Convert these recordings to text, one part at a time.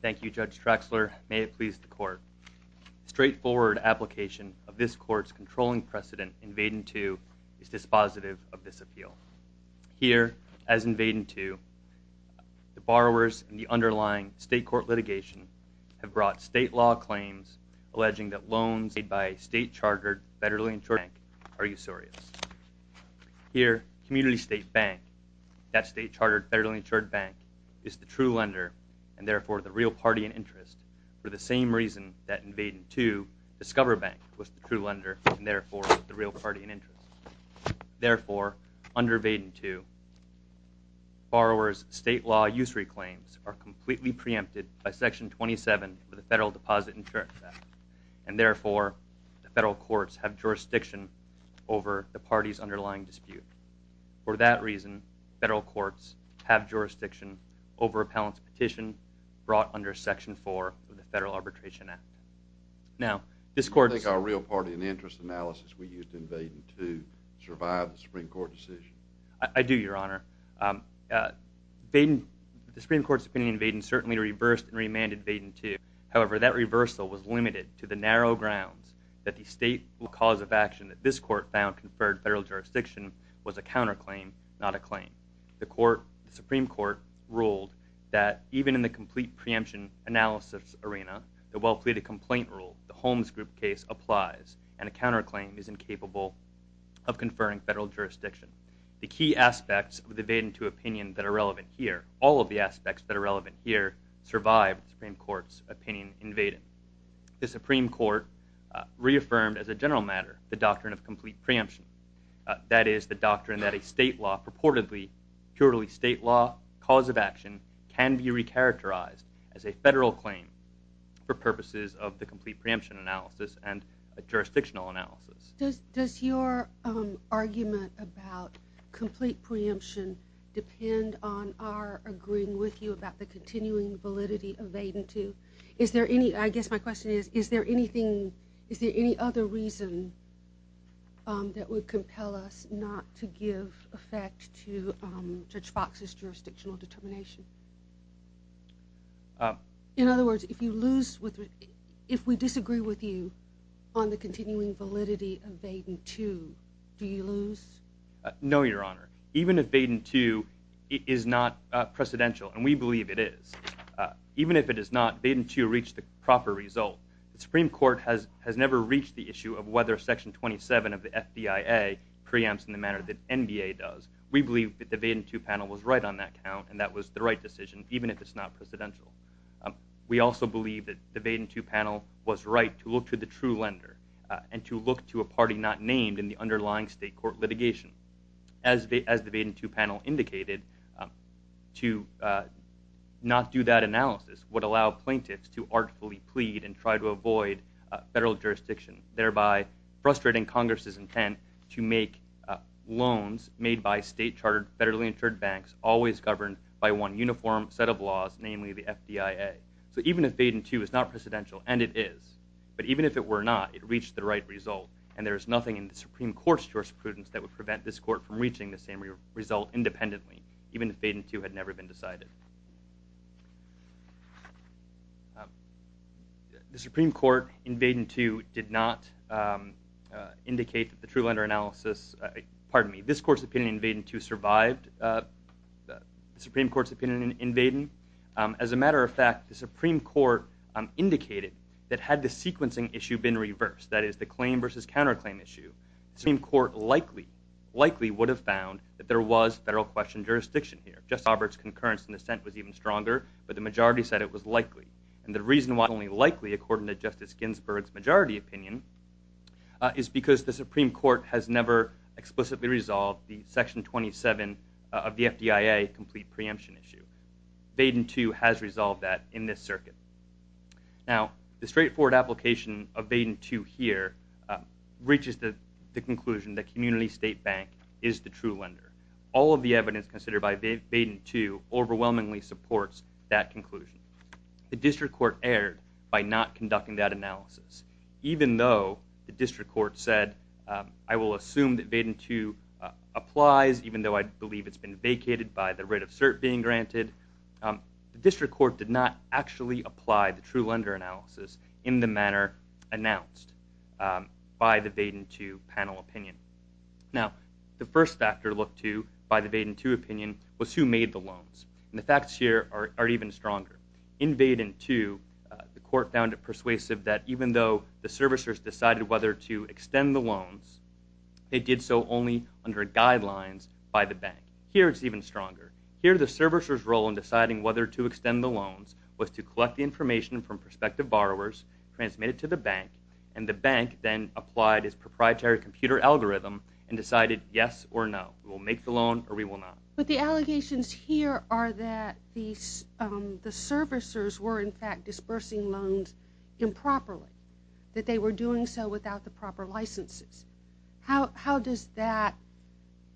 Thank you, Judge Traxler. May it please the Court. The straightforward application of this Court's controlling precedent, Invade-N-Two, is dispositive of this appeal. Here, as Invade-N-Two, the borrowers in the underlying state court litigation have brought state law claims alleging that loans made by a state-chartered federally insured bank are usurious. Here, Community State Bank, that state-chartered federally insured bank, is the true lender, and therefore the real party in interest, for the same reason that Invade-N-Two, Discover Bank, was the true lender, and therefore the real party in interest. Therefore, under Invade-N-Two, borrowers' state law usury claims are completely preempted by Section 27 of the Federal Deposit Insurance Act, and therefore the federal courts have jurisdiction over the parties' underlying dispute. For that reason, federal courts have jurisdiction over appellant's petition brought under Section 4 of the Federal Arbitration Act. Now, this Court's- Do you think our real party in interest analysis we used in Invade-N-Two survived the Supreme Court decision? I do, Your Honor. The Supreme Court's opinion in Invade-N-Two certainly reversed and remanded Invade-N-Two. However, that reversal was limited to the narrow grounds that the stateful cause of action that this Court found conferred federal jurisdiction was a counterclaim, not a claim. The Supreme Court ruled that even in the complete preemption analysis arena, the well-pleaded complaint rule, the Holmes Group case, applies, and a counterclaim is incapable of conferring federal jurisdiction. The key aspects of the Invade-N-Two opinion that are relevant here, all of the aspects that are relevant here, survived the Supreme Court, reaffirmed as a general matter the doctrine of complete preemption. That is, the doctrine that a state law purportedly, purely state law, cause of action can be recharacterized as a federal claim for purposes of the complete preemption analysis and a jurisdictional analysis. Does your argument about complete preemption depend on our agreeing with you about the any other reason that would compel us not to give effect to Judge Fox's jurisdictional determination? In other words, if we disagree with you on the continuing validity of Invade-N-Two, do you lose? No, Your Honor. Even if Invade-N-Two is not precedential, and we believe it is, even if it is not, Invade-N-Two reached the proper result, the Supreme Court has never reached the issue of whether Section 27 of the FBIA preempts in the manner that NBA does. We believe that the Invade-N-Two panel was right on that count, and that was the right decision, even if it's not precedential. We also believe that the Invade-N-Two panel was right to look to the true lender and to look to a party not named in the underlying state court litigation. As the Invade-N-Two panel indicated, to not do that analysis would allow plaintiffs to artfully plead and try to avoid federal jurisdiction, thereby frustrating Congress's intent to make loans made by state-chartered, federally insured banks always governed by one uniform set of laws, namely the FBIA. So even if Invade-N-Two is not precedential, and it is, but even if it were not, it reached the right result, and there is nothing in the Supreme Court's jurisprudence that would prevent this court from reaching the same result independently, even if Invade-N-Two had never been decided. The Supreme Court, in Invade-N-Two, did not indicate that the true lender analysis, pardon me, this court's opinion in Invade-N-Two survived the Supreme Court's opinion in Invade-N. As a matter of fact, the Supreme Court indicated that had the sequencing issue been reversed, that is, the claim versus counterclaim issue, the Supreme Court likely, likely would have found that there was federal question jurisdiction here. Justice Roberts' concurrence in dissent was even stronger, but the majority said it was likely. And the reason why it was only likely, according to Justice Ginsburg's majority opinion, is because the Supreme Court has never explicitly resolved the Section 27 of the FBIA complete preemption issue. Invade-N-Two has resolved that in this circuit. Now, the straightforward application of Invade-N-Two here reaches the conclusion that Community State Bank is the true lender. All of the evidence considered by Invade-N-Two overwhelmingly supports that conclusion. The District Court erred by not conducting that analysis, even though the District Court said, I will assume that Invade-N-Two applies, even though I believe it's been vacated by the writ of cert being that the District Court did not actually apply the true lender analysis in the manner announced by the Invade-N-Two panel opinion. Now, the first factor looked to by the Invade-N-Two opinion was who made the loans. And the facts here are even stronger. Invade-N-Two, the court found it persuasive that even though the servicers decided whether to extend the loans, they did so only under guidelines by the bank. Here, it's even stronger. Here, the servicers' role in deciding whether to extend the loans was to collect the information from prospective borrowers, transmit it to the bank, and the bank then applied its proprietary computer algorithm and decided yes or no. We will make the loan or we will not. But the allegations here are that the servicers were, in fact, dispersing loans improperly, that they were doing so without the proper licenses. How does that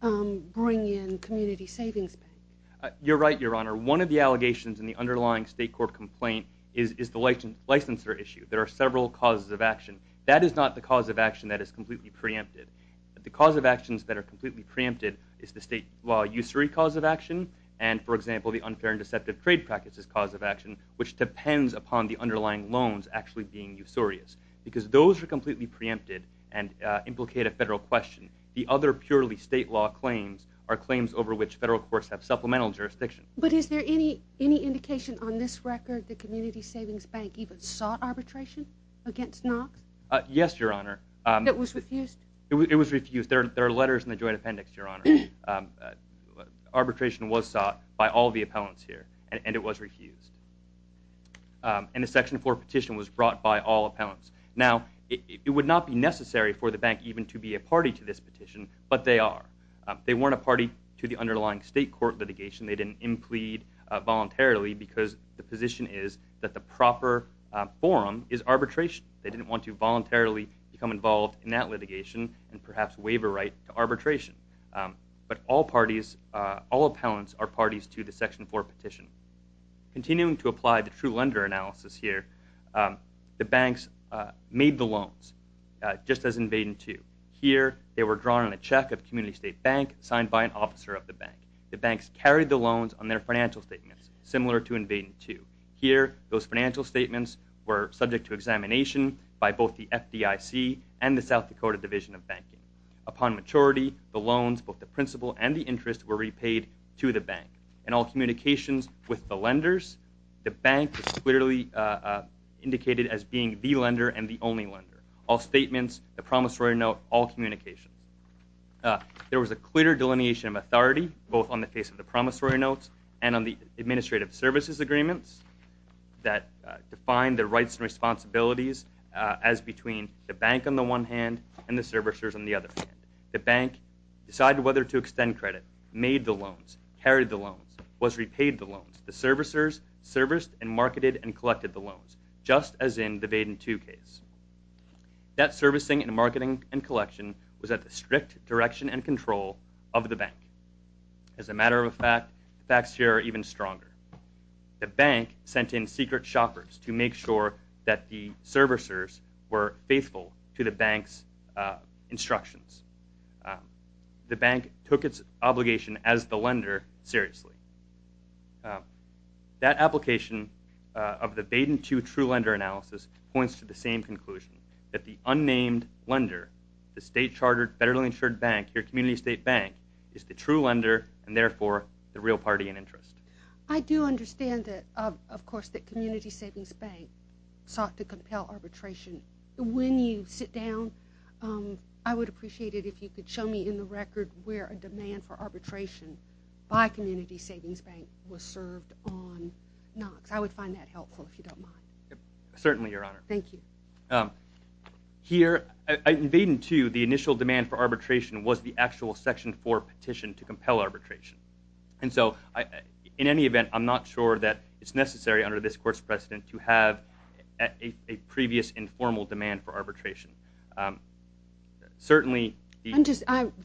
bring in Community Savings Bank? You're right, Your Honor. One of the allegations in the underlying state court complaint is the licensure issue. There are several causes of action. That is not the cause of action that is completely preempted. The cause of actions that are completely preempted is the state law usury cause of action and, for example, the unfair and deceptive trade practices cause of action, which depends upon the underlying loans actually being usurious. Because those are completely preempted and implicate a federal question. The other purely state law claims are claims over which federal courts have supplemental jurisdiction. But is there any indication on this record that Community Savings Bank even sought arbitration against Knox? Yes, Your Honor. It was refused? It was refused. There are letters in the Joint Appendix, Your Honor. Arbitration was sought by all the appellants here and it was refused. And the Section 4 petition was brought by all appellants. Now, it would not be necessary for the bank even to be a party to this petition, but they are. They weren't a party to the underlying state court litigation. They didn't implead voluntarily because the position is that the proper forum is arbitration. They didn't want to voluntarily become involved in that litigation and perhaps waive a right to arbitration. But all parties, all appellants are parties to the Section 4 petition. Continuing to apply the true lender analysis here, the bank was invaded too. Here, they were drawn on a check of Community State Bank signed by an officer of the bank. The banks carried the loans on their financial statements, similar to invaded too. Here, those financial statements were subject to examination by both the FDIC and the South Dakota Division of Banking. Upon maturity, the loans, both the principal and the interest, were repaid to the bank. In all communications with the lenders, the promissory note, all communications. There was a clear delineation of authority, both on the face of the promissory notes and on the administrative services agreements that defined the rights and responsibilities as between the bank on the one hand and the servicers on the other hand. The bank decided whether to extend credit, made the loans, carried the loans, was repaid the loans. The servicers serviced and marketed and collected the loans, just as in the invaded too case. That servicing and marketing and collection was at the strict direction and control of the bank. As a matter of fact, the facts here are even stronger. The bank sent in secret shoppers to make sure that the servicers were faithful to the bank's instructions. The bank took its obligation as the lender seriously. That application of the Baden 2 true lender analysis points to the same conclusion, that the unnamed lender, the state chartered, federally insured bank, your community state bank, is the true lender and therefore the real party in interest. I do understand that, of course, that Community Savings Bank sought to compel arbitration. When you sit down, I would appreciate it if you could show me in the record where a demand for arbitration by Community Savings Bank was served on Knox. I would find that helpful if you don't mind. Certainly, Your Honor. Thank you. Here, in Baden 2, the initial demand for arbitration was the actual Section 4 petition to compel arbitration. And so, in any event, I'm not sure that it's necessary under this court's precedent to have a previous informal demand for arbitration. Certainly...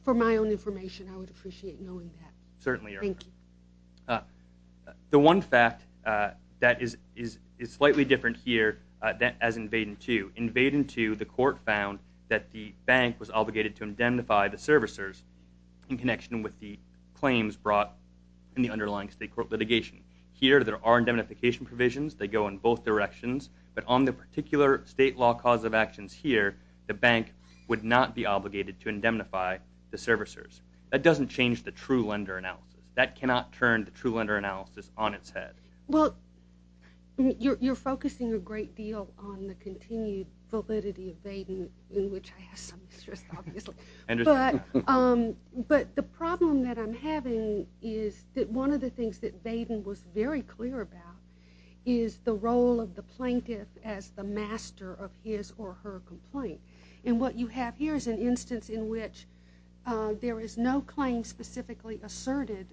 For my own information, I would appreciate knowing that. Certainly, Your Honor. Thank you. The one fact that is slightly different here as in Baden 2. In Baden 2, the court found that the bank was obligated to indemnify the servicers in connection with the claims brought in the underlying state court litigation. Here, there are indemnification provisions. They go in both directions. But on the particular state law cause of actions here, the bank would not be obligated to indemnify the servicers. That doesn't change the true lender analysis. That cannot turn the true lender analysis on its head. Well, you're focusing a great deal on the continued validity of Baden in which I have some interest, obviously. But the problem that I'm having is that one of the things that Baden was very clear about is the role of the plaintiff as the master of his or her complaint. And what you have here is an instance in which there is no claim specifically asserted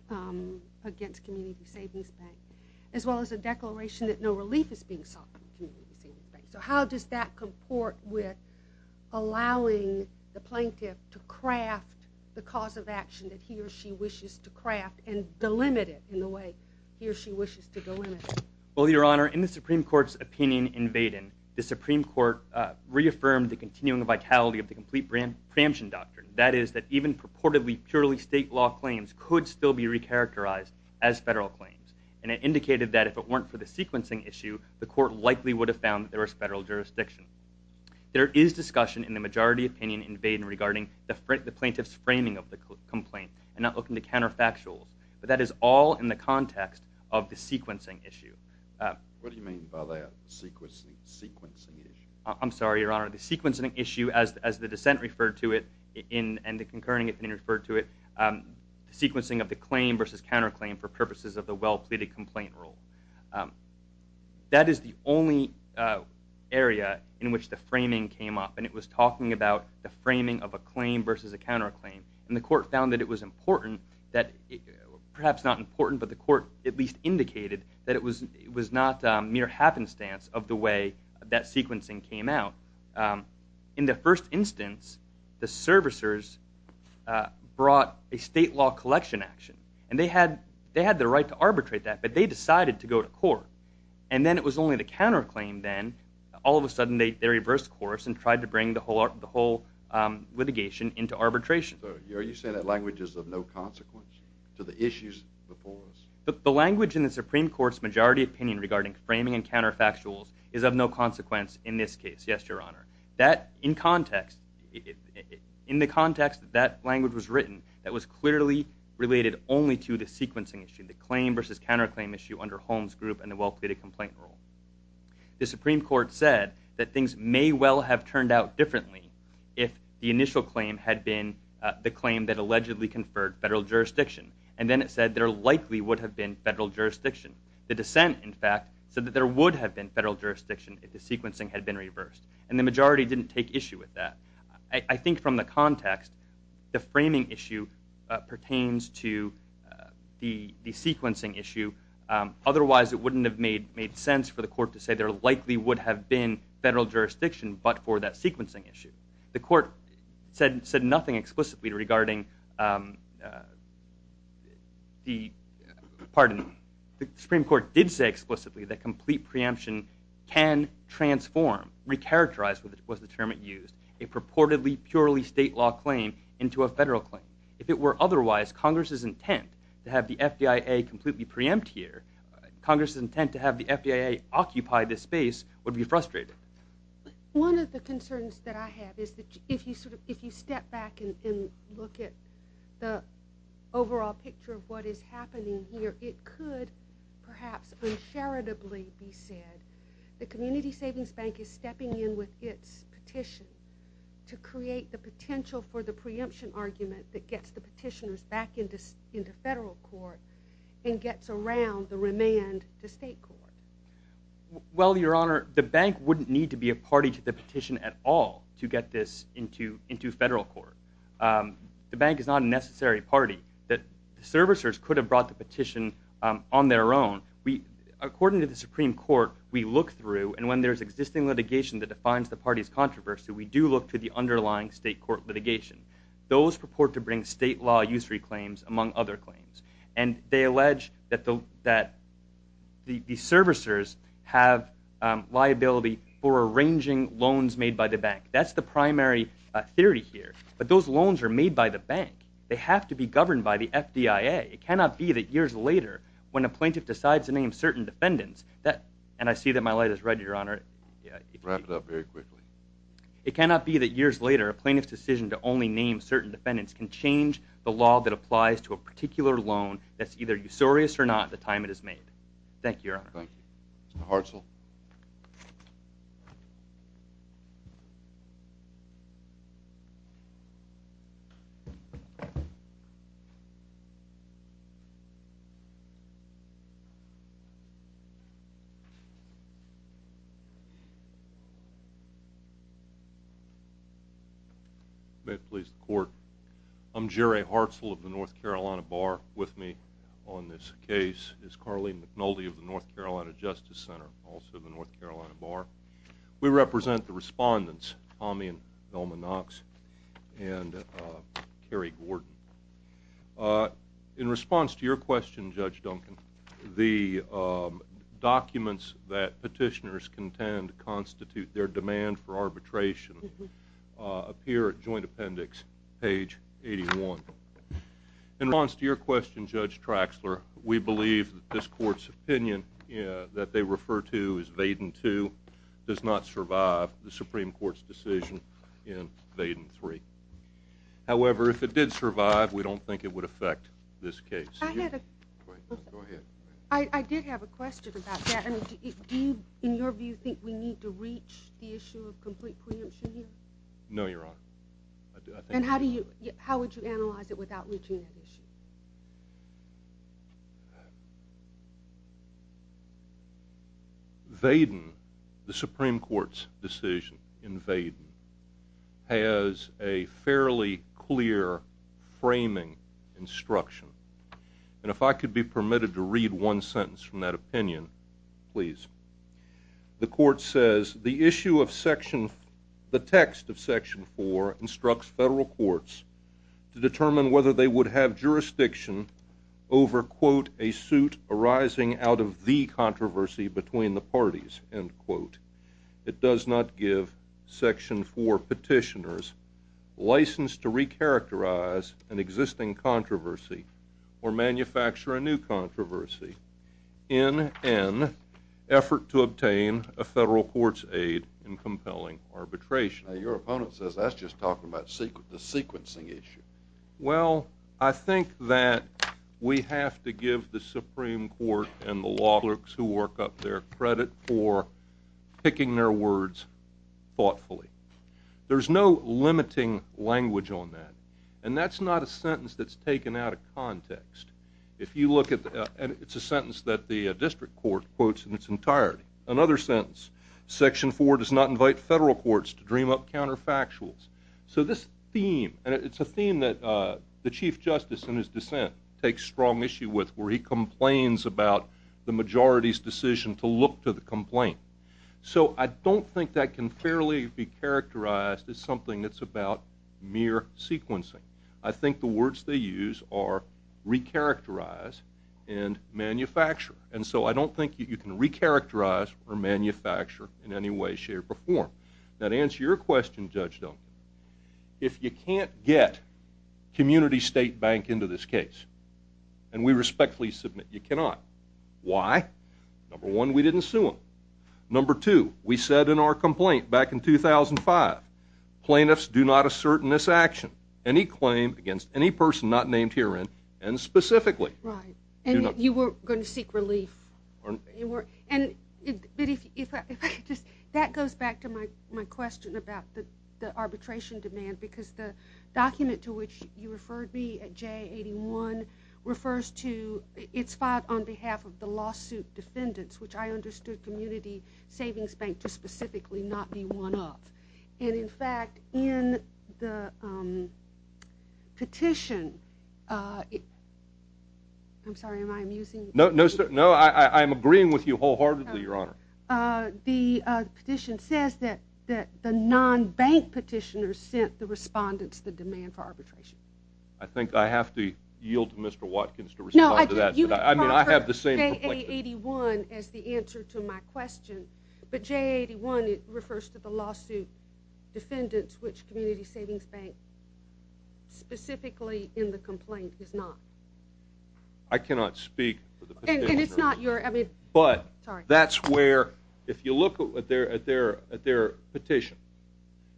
against Community Savings Bank, as well as a declaration that no relief is being sought from Community Savings Bank. So how does that comport with allowing the plaintiff to craft the cause of action that he or she wishes to craft and delimit it in the way he or she wishes to delimit it? Well, Your Honor, in the Supreme Court's opinion in Baden, the Supreme Court reaffirmed the continuing vitality of the complete preemption doctrine. That is, that even purportedly purely state law claims could still be recharacterized as federal claims. And it indicated that if it weren't for the sequencing issue, the court likely would have found that there was federal jurisdiction. There is discussion in the majority opinion in Baden regarding the plaintiff's framing of the complaint and not looking to counterfactuals. But that is all in the context of the sequencing issue. What do you mean by that? Sequencing issue? I'm sorry, Your Honor. The sequencing issue, as the dissent referred to it and the concurring opinion referred to it, sequencing of the claim versus counterclaim for purposes of the well-pleaded complaint rule. That is the only area in which the framing came up. And it was talking about the framing of a claim versus a counterclaim. And the court found that it was important, perhaps not important, but the court at least indicated that it was not mere happenstance of the way that sequencing came out. In the first instance, the servicers brought a state law collection action. And they had the right to arbitrate that, but they decided to go to court. And then it was only the counterclaim then. All of a sudden they reversed course and tried to bring the whole litigation into arbitration. Are you saying that language is of no consequence to the issues before us? The language in the Supreme Court's majority opinion regarding framing and counterfactuals is of no consequence in this case, yes, Your Honor. In the context that that language was written, that was clearly related only to the sequencing issue, the claim versus counterclaim issue under Holmes Group and the well-pleaded complaint rule. The Supreme Court said that things may well have turned out differently if the initial claim had been the claim that allegedly conferred federal jurisdiction. And then it said there likely would have been federal jurisdiction. The dissent, in fact, said that there would have been federal jurisdiction if the sequencing had been reversed. And the majority didn't take issue with that. I think from the context, the framing issue pertains to the sequencing issue. Otherwise, it wouldn't have made sense for the court to say there likely would have been federal jurisdiction but for that sequencing issue. The Supreme Court did say explicitly that complete preemption can transform, recharacterize was the term it used, a purportedly purely state law claim into a federal claim. If it were otherwise, Congress's intent to have the FDIA completely preempt here, Congress's intent to have the FDIA occupy this space would be frustrated. One of the concerns that I have is that if you step back and look at the overall picture of what is happening here, it could perhaps uncharitably be said the Community Savings Bank is stepping in with its petition to create the potential for the preemption argument that gets the petitioners back into federal court and gets around the remand to state court. Well, Your Honor, the bank wouldn't need to be a party to the petition at all to get this into federal court. The bank is not a necessary party. The servicers could have brought the petition on their own. According to the Supreme Court, we look through, and when there is existing litigation that defines the party's controversy, we do look to the state law usury claims among other claims. And they allege that the servicers have liability for arranging loans made by the bank. That's the primary theory here. But those loans are made by the bank. They have to be governed by the FDIA. It cannot be that years later when a plaintiff decides to name certain defendants, and I see that my light is red, Your Honor. Wrap it up very quickly. It cannot be that years later a plaintiff's decision to only name certain defendants can change the law that applies to a particular loan that's either usurious or not at the time it is made. Thank you, Your Honor. Thank you. Mr. Hartzell? May it please the Court. I'm Jerry Hartzell of the North Carolina Bar. With me on this We represent the respondents, Tommy and Velma Knox, and Kerry Gordon. In response to your question, Judge Duncan, the documents that petitioners contend constitute their demand for arbitration appear at Joint Appendix, page 81. In response to your question, Judge Traxler, we believe that this Court's opinion that they refer to as Vaden II does not survive the Supreme Court's decision in Vaden III. However, if it did survive, we don't think it would affect this case. Go ahead. I did have a question about that. Do you, in your view, think we need to reach the issue of complete preemption here? No, Your Honor. And how would you analyze it without reaching that issue? Vaden, the Supreme Court's decision in Vaden, has a fairly clear framing instruction. And if I could be permitted to read one sentence from that opinion, please. The Court says the issue of Section, the text of Section 4 instructs federal courts to determine whether they would have jurisdiction over, quote, a suit arising out of the controversy between the parties, end quote. It does not give Section 4 petitioners license to recharacterize an existing controversy or manufacture a new controversy. In an effort to obtain a federal court's aid in compelling arbitration. Your opponent says that's just talking about the sequencing issue. Well, I think that we have to give the Supreme Court and the law clerks who work up there credit for picking their words thoughtfully. There's no limiting language on that. And that's not a sentence that's taken out of context. If you look at the, and it's a sentence that the district court quotes in its entirety. Another sentence, Section 4 does not invite federal courts to dream up counterfactuals. So this theme, and it's a theme that the Chief Justice in his dissent takes strong issue with where he complains about the majority's decision to look to the complaint. So I don't think that can fairly be characterized as something that's about mere sequencing. I think the words they use are recharacterize and manufacture. And so I don't think you can recharacterize or manufacture in any way, shape or form. That answer your question, Judge Duncan. If you can't get Community State Bank into this case, and we respectfully submit you cannot. Why? Number one, we didn't sue him. Number two, we said in our complaint back in 2005, plaintiffs do not assert in this action, any claim against any person not named herein, and specifically. Right. And you were going to seek relief. And that goes back to my question about the arbitration demand, because the document to which you referred me at J81 refers to, it's filed on behalf of the lawsuit defendants, which I understood Community Savings Bank to specifically not be one of. And in fact, in the petition, I'm sorry, am I amusing? No, no, sir. No, I am agreeing with you wholeheartedly, Your Honor. The petition says that the non-bank petitioners sent the respondents the demand for arbitration. I think I have to yield to Mr. Watkins to respond to that. I mean, I have the same. J81 is the answer to my question. But J81, it refers to the lawsuit defendants, which Community Savings Bank specifically in the complaint is not. I cannot speak for the petitioner. And it's not your, I mean, sorry. But that's where, if you look at their petition,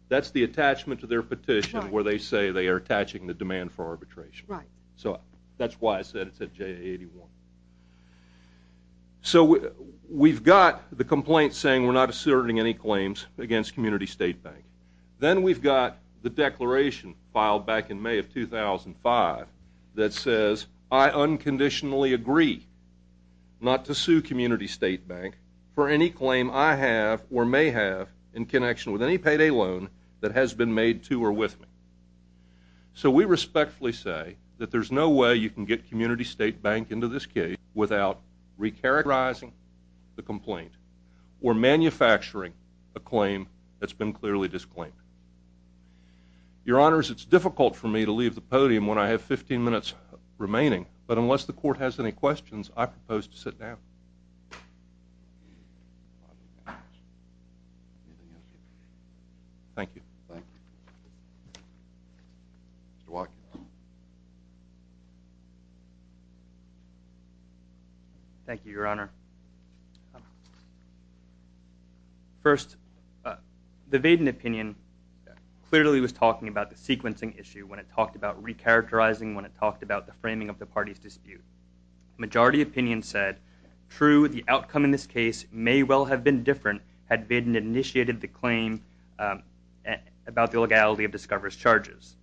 that's the attachment to their petition where they say they are attaching the demand for arbitration. Right. So that's why I said it's at J81. So we've got the complaint saying we're not asserting any claims against Community State Bank. Then we've got the declaration filed back in May of 2005 that says, I unconditionally agree not to sue Community State Bank for any claim I have or may have in connection with any payday loan that has been made to or with me. So we respectfully say that there's no way you can get Community State Bank into this case without recharacterizing the complaint or manufacturing a claim that's been clearly disclaimed. Your Honors, it's difficult for me to leave the podium when I have 15 minutes remaining. But unless the court has any questions, I propose to sit down. Thank you. Thank you. Mr. Watkins. Thank you, Your Honor. First, the Vaden opinion clearly was talking about the sequencing issue when it talked about opinion said, true, the outcome in this case may well have been different had Vaden initiated the claim about the legality of Discover's charges.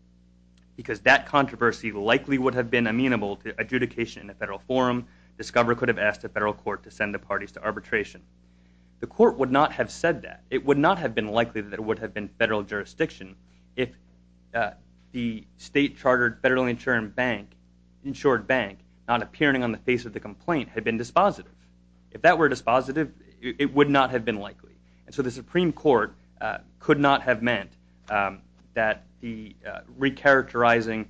Because that controversy likely would have been amenable to adjudication in a federal forum. Discover could have asked a federal court to send the parties to arbitration. The court would not have said that. It would not have been likely that it would have been federal jurisdiction if the state chartered insured bank not appearing on the face of the complaint had been dispositive. If that were dispositive, it would not have been likely. And so the Supreme Court could not have meant that the recharacterizing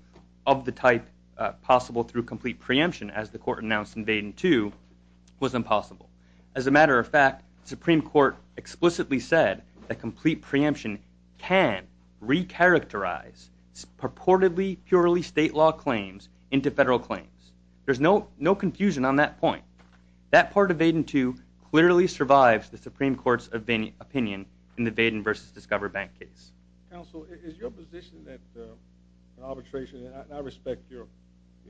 of the type possible through complete preemption, as the court announced in Vaden 2, was impossible. As a matter of fact, the Supreme Court explicitly said that complete preemption can recharacterize purportedly, purely state law claims into federal claims. There's no confusion on that point. That part of Vaden 2 clearly survives the Supreme Court's opinion in the Vaden versus Discover bank case. Counsel, is your position that arbitration, and I respect your,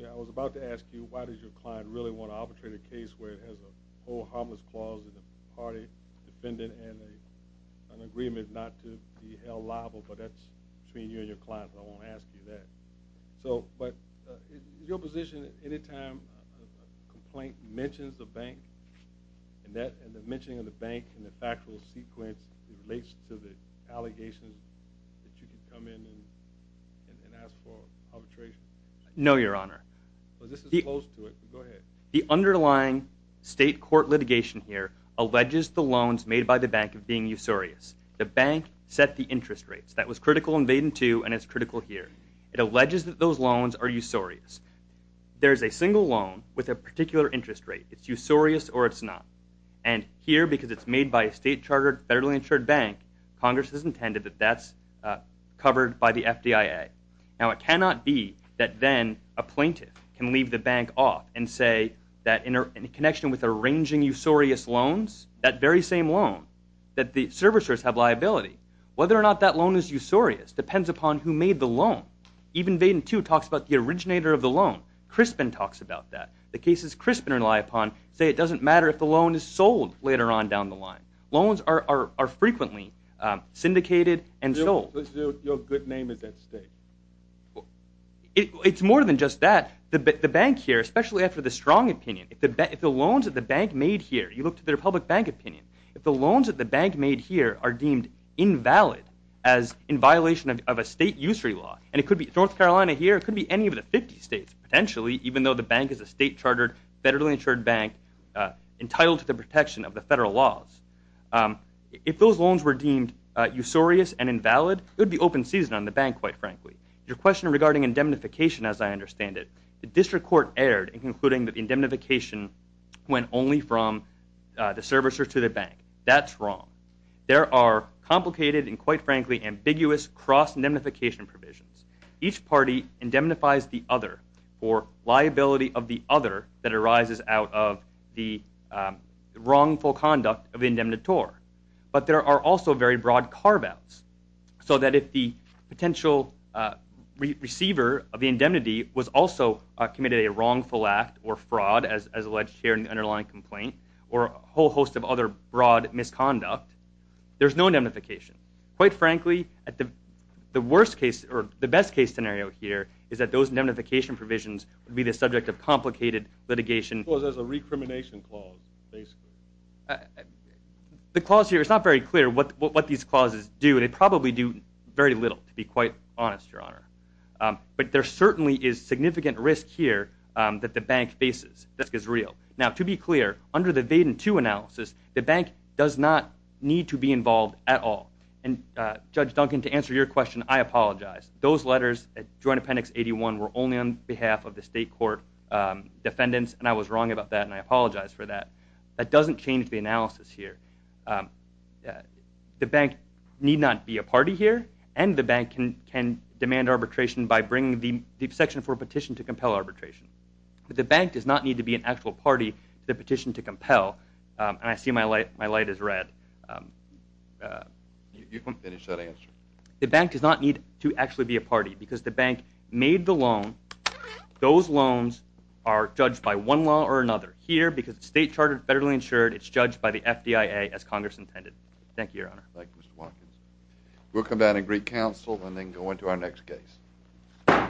I was about to ask you, why does your client really want to arbitrate a case where it has a whole harmless clause in the party, defendant, and an agreement not to be held liable, but that's between you and your client. I won't ask you that. So, but in your position, any time a complaint mentions the bank, and the mentioning of the bank in the factual sequence relates to the allegations that you can come in and ask for arbitration? No, Your Honor. Well, this is close to it. Go ahead. The underlying state court litigation here alleges the loans made by the bank of being usurious. The bank set the interest rates. That was critical in Vaden 2, and it's critical here. It alleges that those loans are usurious. There's a single loan with a particular interest rate. It's usurious or it's not. And here, because it's made by a state-chartered, federally insured bank, Congress has intended that that's covered by the FDIA. Now, it cannot be that then a plaintiff can leave the bank off and say that in connection with arranging usurious loans, that very same loan, that the servicers have liability. Whether or not that loan is usurious depends upon who made the loan. Even Vaden 2 talks about the originator of the loan. Crispin talks about that. The cases Crispin rely upon say it doesn't matter if the loan is sold later on down the line. Loans are frequently syndicated and sold. Your good name is at stake. It's more than just that. The bank here, especially after the strong opinion, if the loans that the bank made here, you look to the Republic Bank opinion, if the loans that the bank made here are deemed invalid as in violation of a state usury law, and it could be North Carolina here, it could be any of the 50 states, potentially, even though the bank is a state-chartered, federally insured bank entitled to the protection of the federal laws, if those loans were deemed usurious and invalid, it would be open season on the bank, quite frankly. Your question regarding indemnification, as I understand it, the district court erred in concluding that indemnification went only from the servicer to the bank. That's wrong. There are complicated and, quite frankly, ambiguous cross-indemnification provisions. Each party indemnifies the other for liability of the other that arises out of the wrongful conduct of the indemnitor. But there are also very broad carve-outs, so that if the potential receiver of the indemnity was also committed a wrongful act or fraud, as alleged here in the underlying complaint, or a whole host of other broad misconduct, there's no indemnification. Quite frankly, the worst case, or the best case scenario here is that those indemnification provisions would be the subject of complicated litigation. Well, there's a recrimination clause, basically. The clause here, it's not very clear what these clauses do. They probably do very little, to be quite honest, Your Honor. But there certainly is significant risk here that the bank faces. The risk is real. Now, to be clear, under the Vaden II analysis, the bank does not need to be involved at all. And, Judge Duncan, to answer your question, I apologize. Those letters, Joint Appendix 81, were only on behalf of the state court defendants, and I was wrong about that, and I apologize for that. That doesn't change the analysis here. The bank need not be a party here, and the bank can demand arbitration by bringing the section for a petition to compel arbitration. But the bank does not need to be an actual party to the petition to compel. And I see my light is red. You can finish that answer. The bank does not need to actually be a party, because the bank made the loan. Those loans are judged by one law or another. Here, because it's state-chartered, federally insured, it's judged by the FDIA, as Congress intended. Thank you, Your Honor. Thank you, Mr. Watkins. We'll come back in Greek Council, and then go into our next case.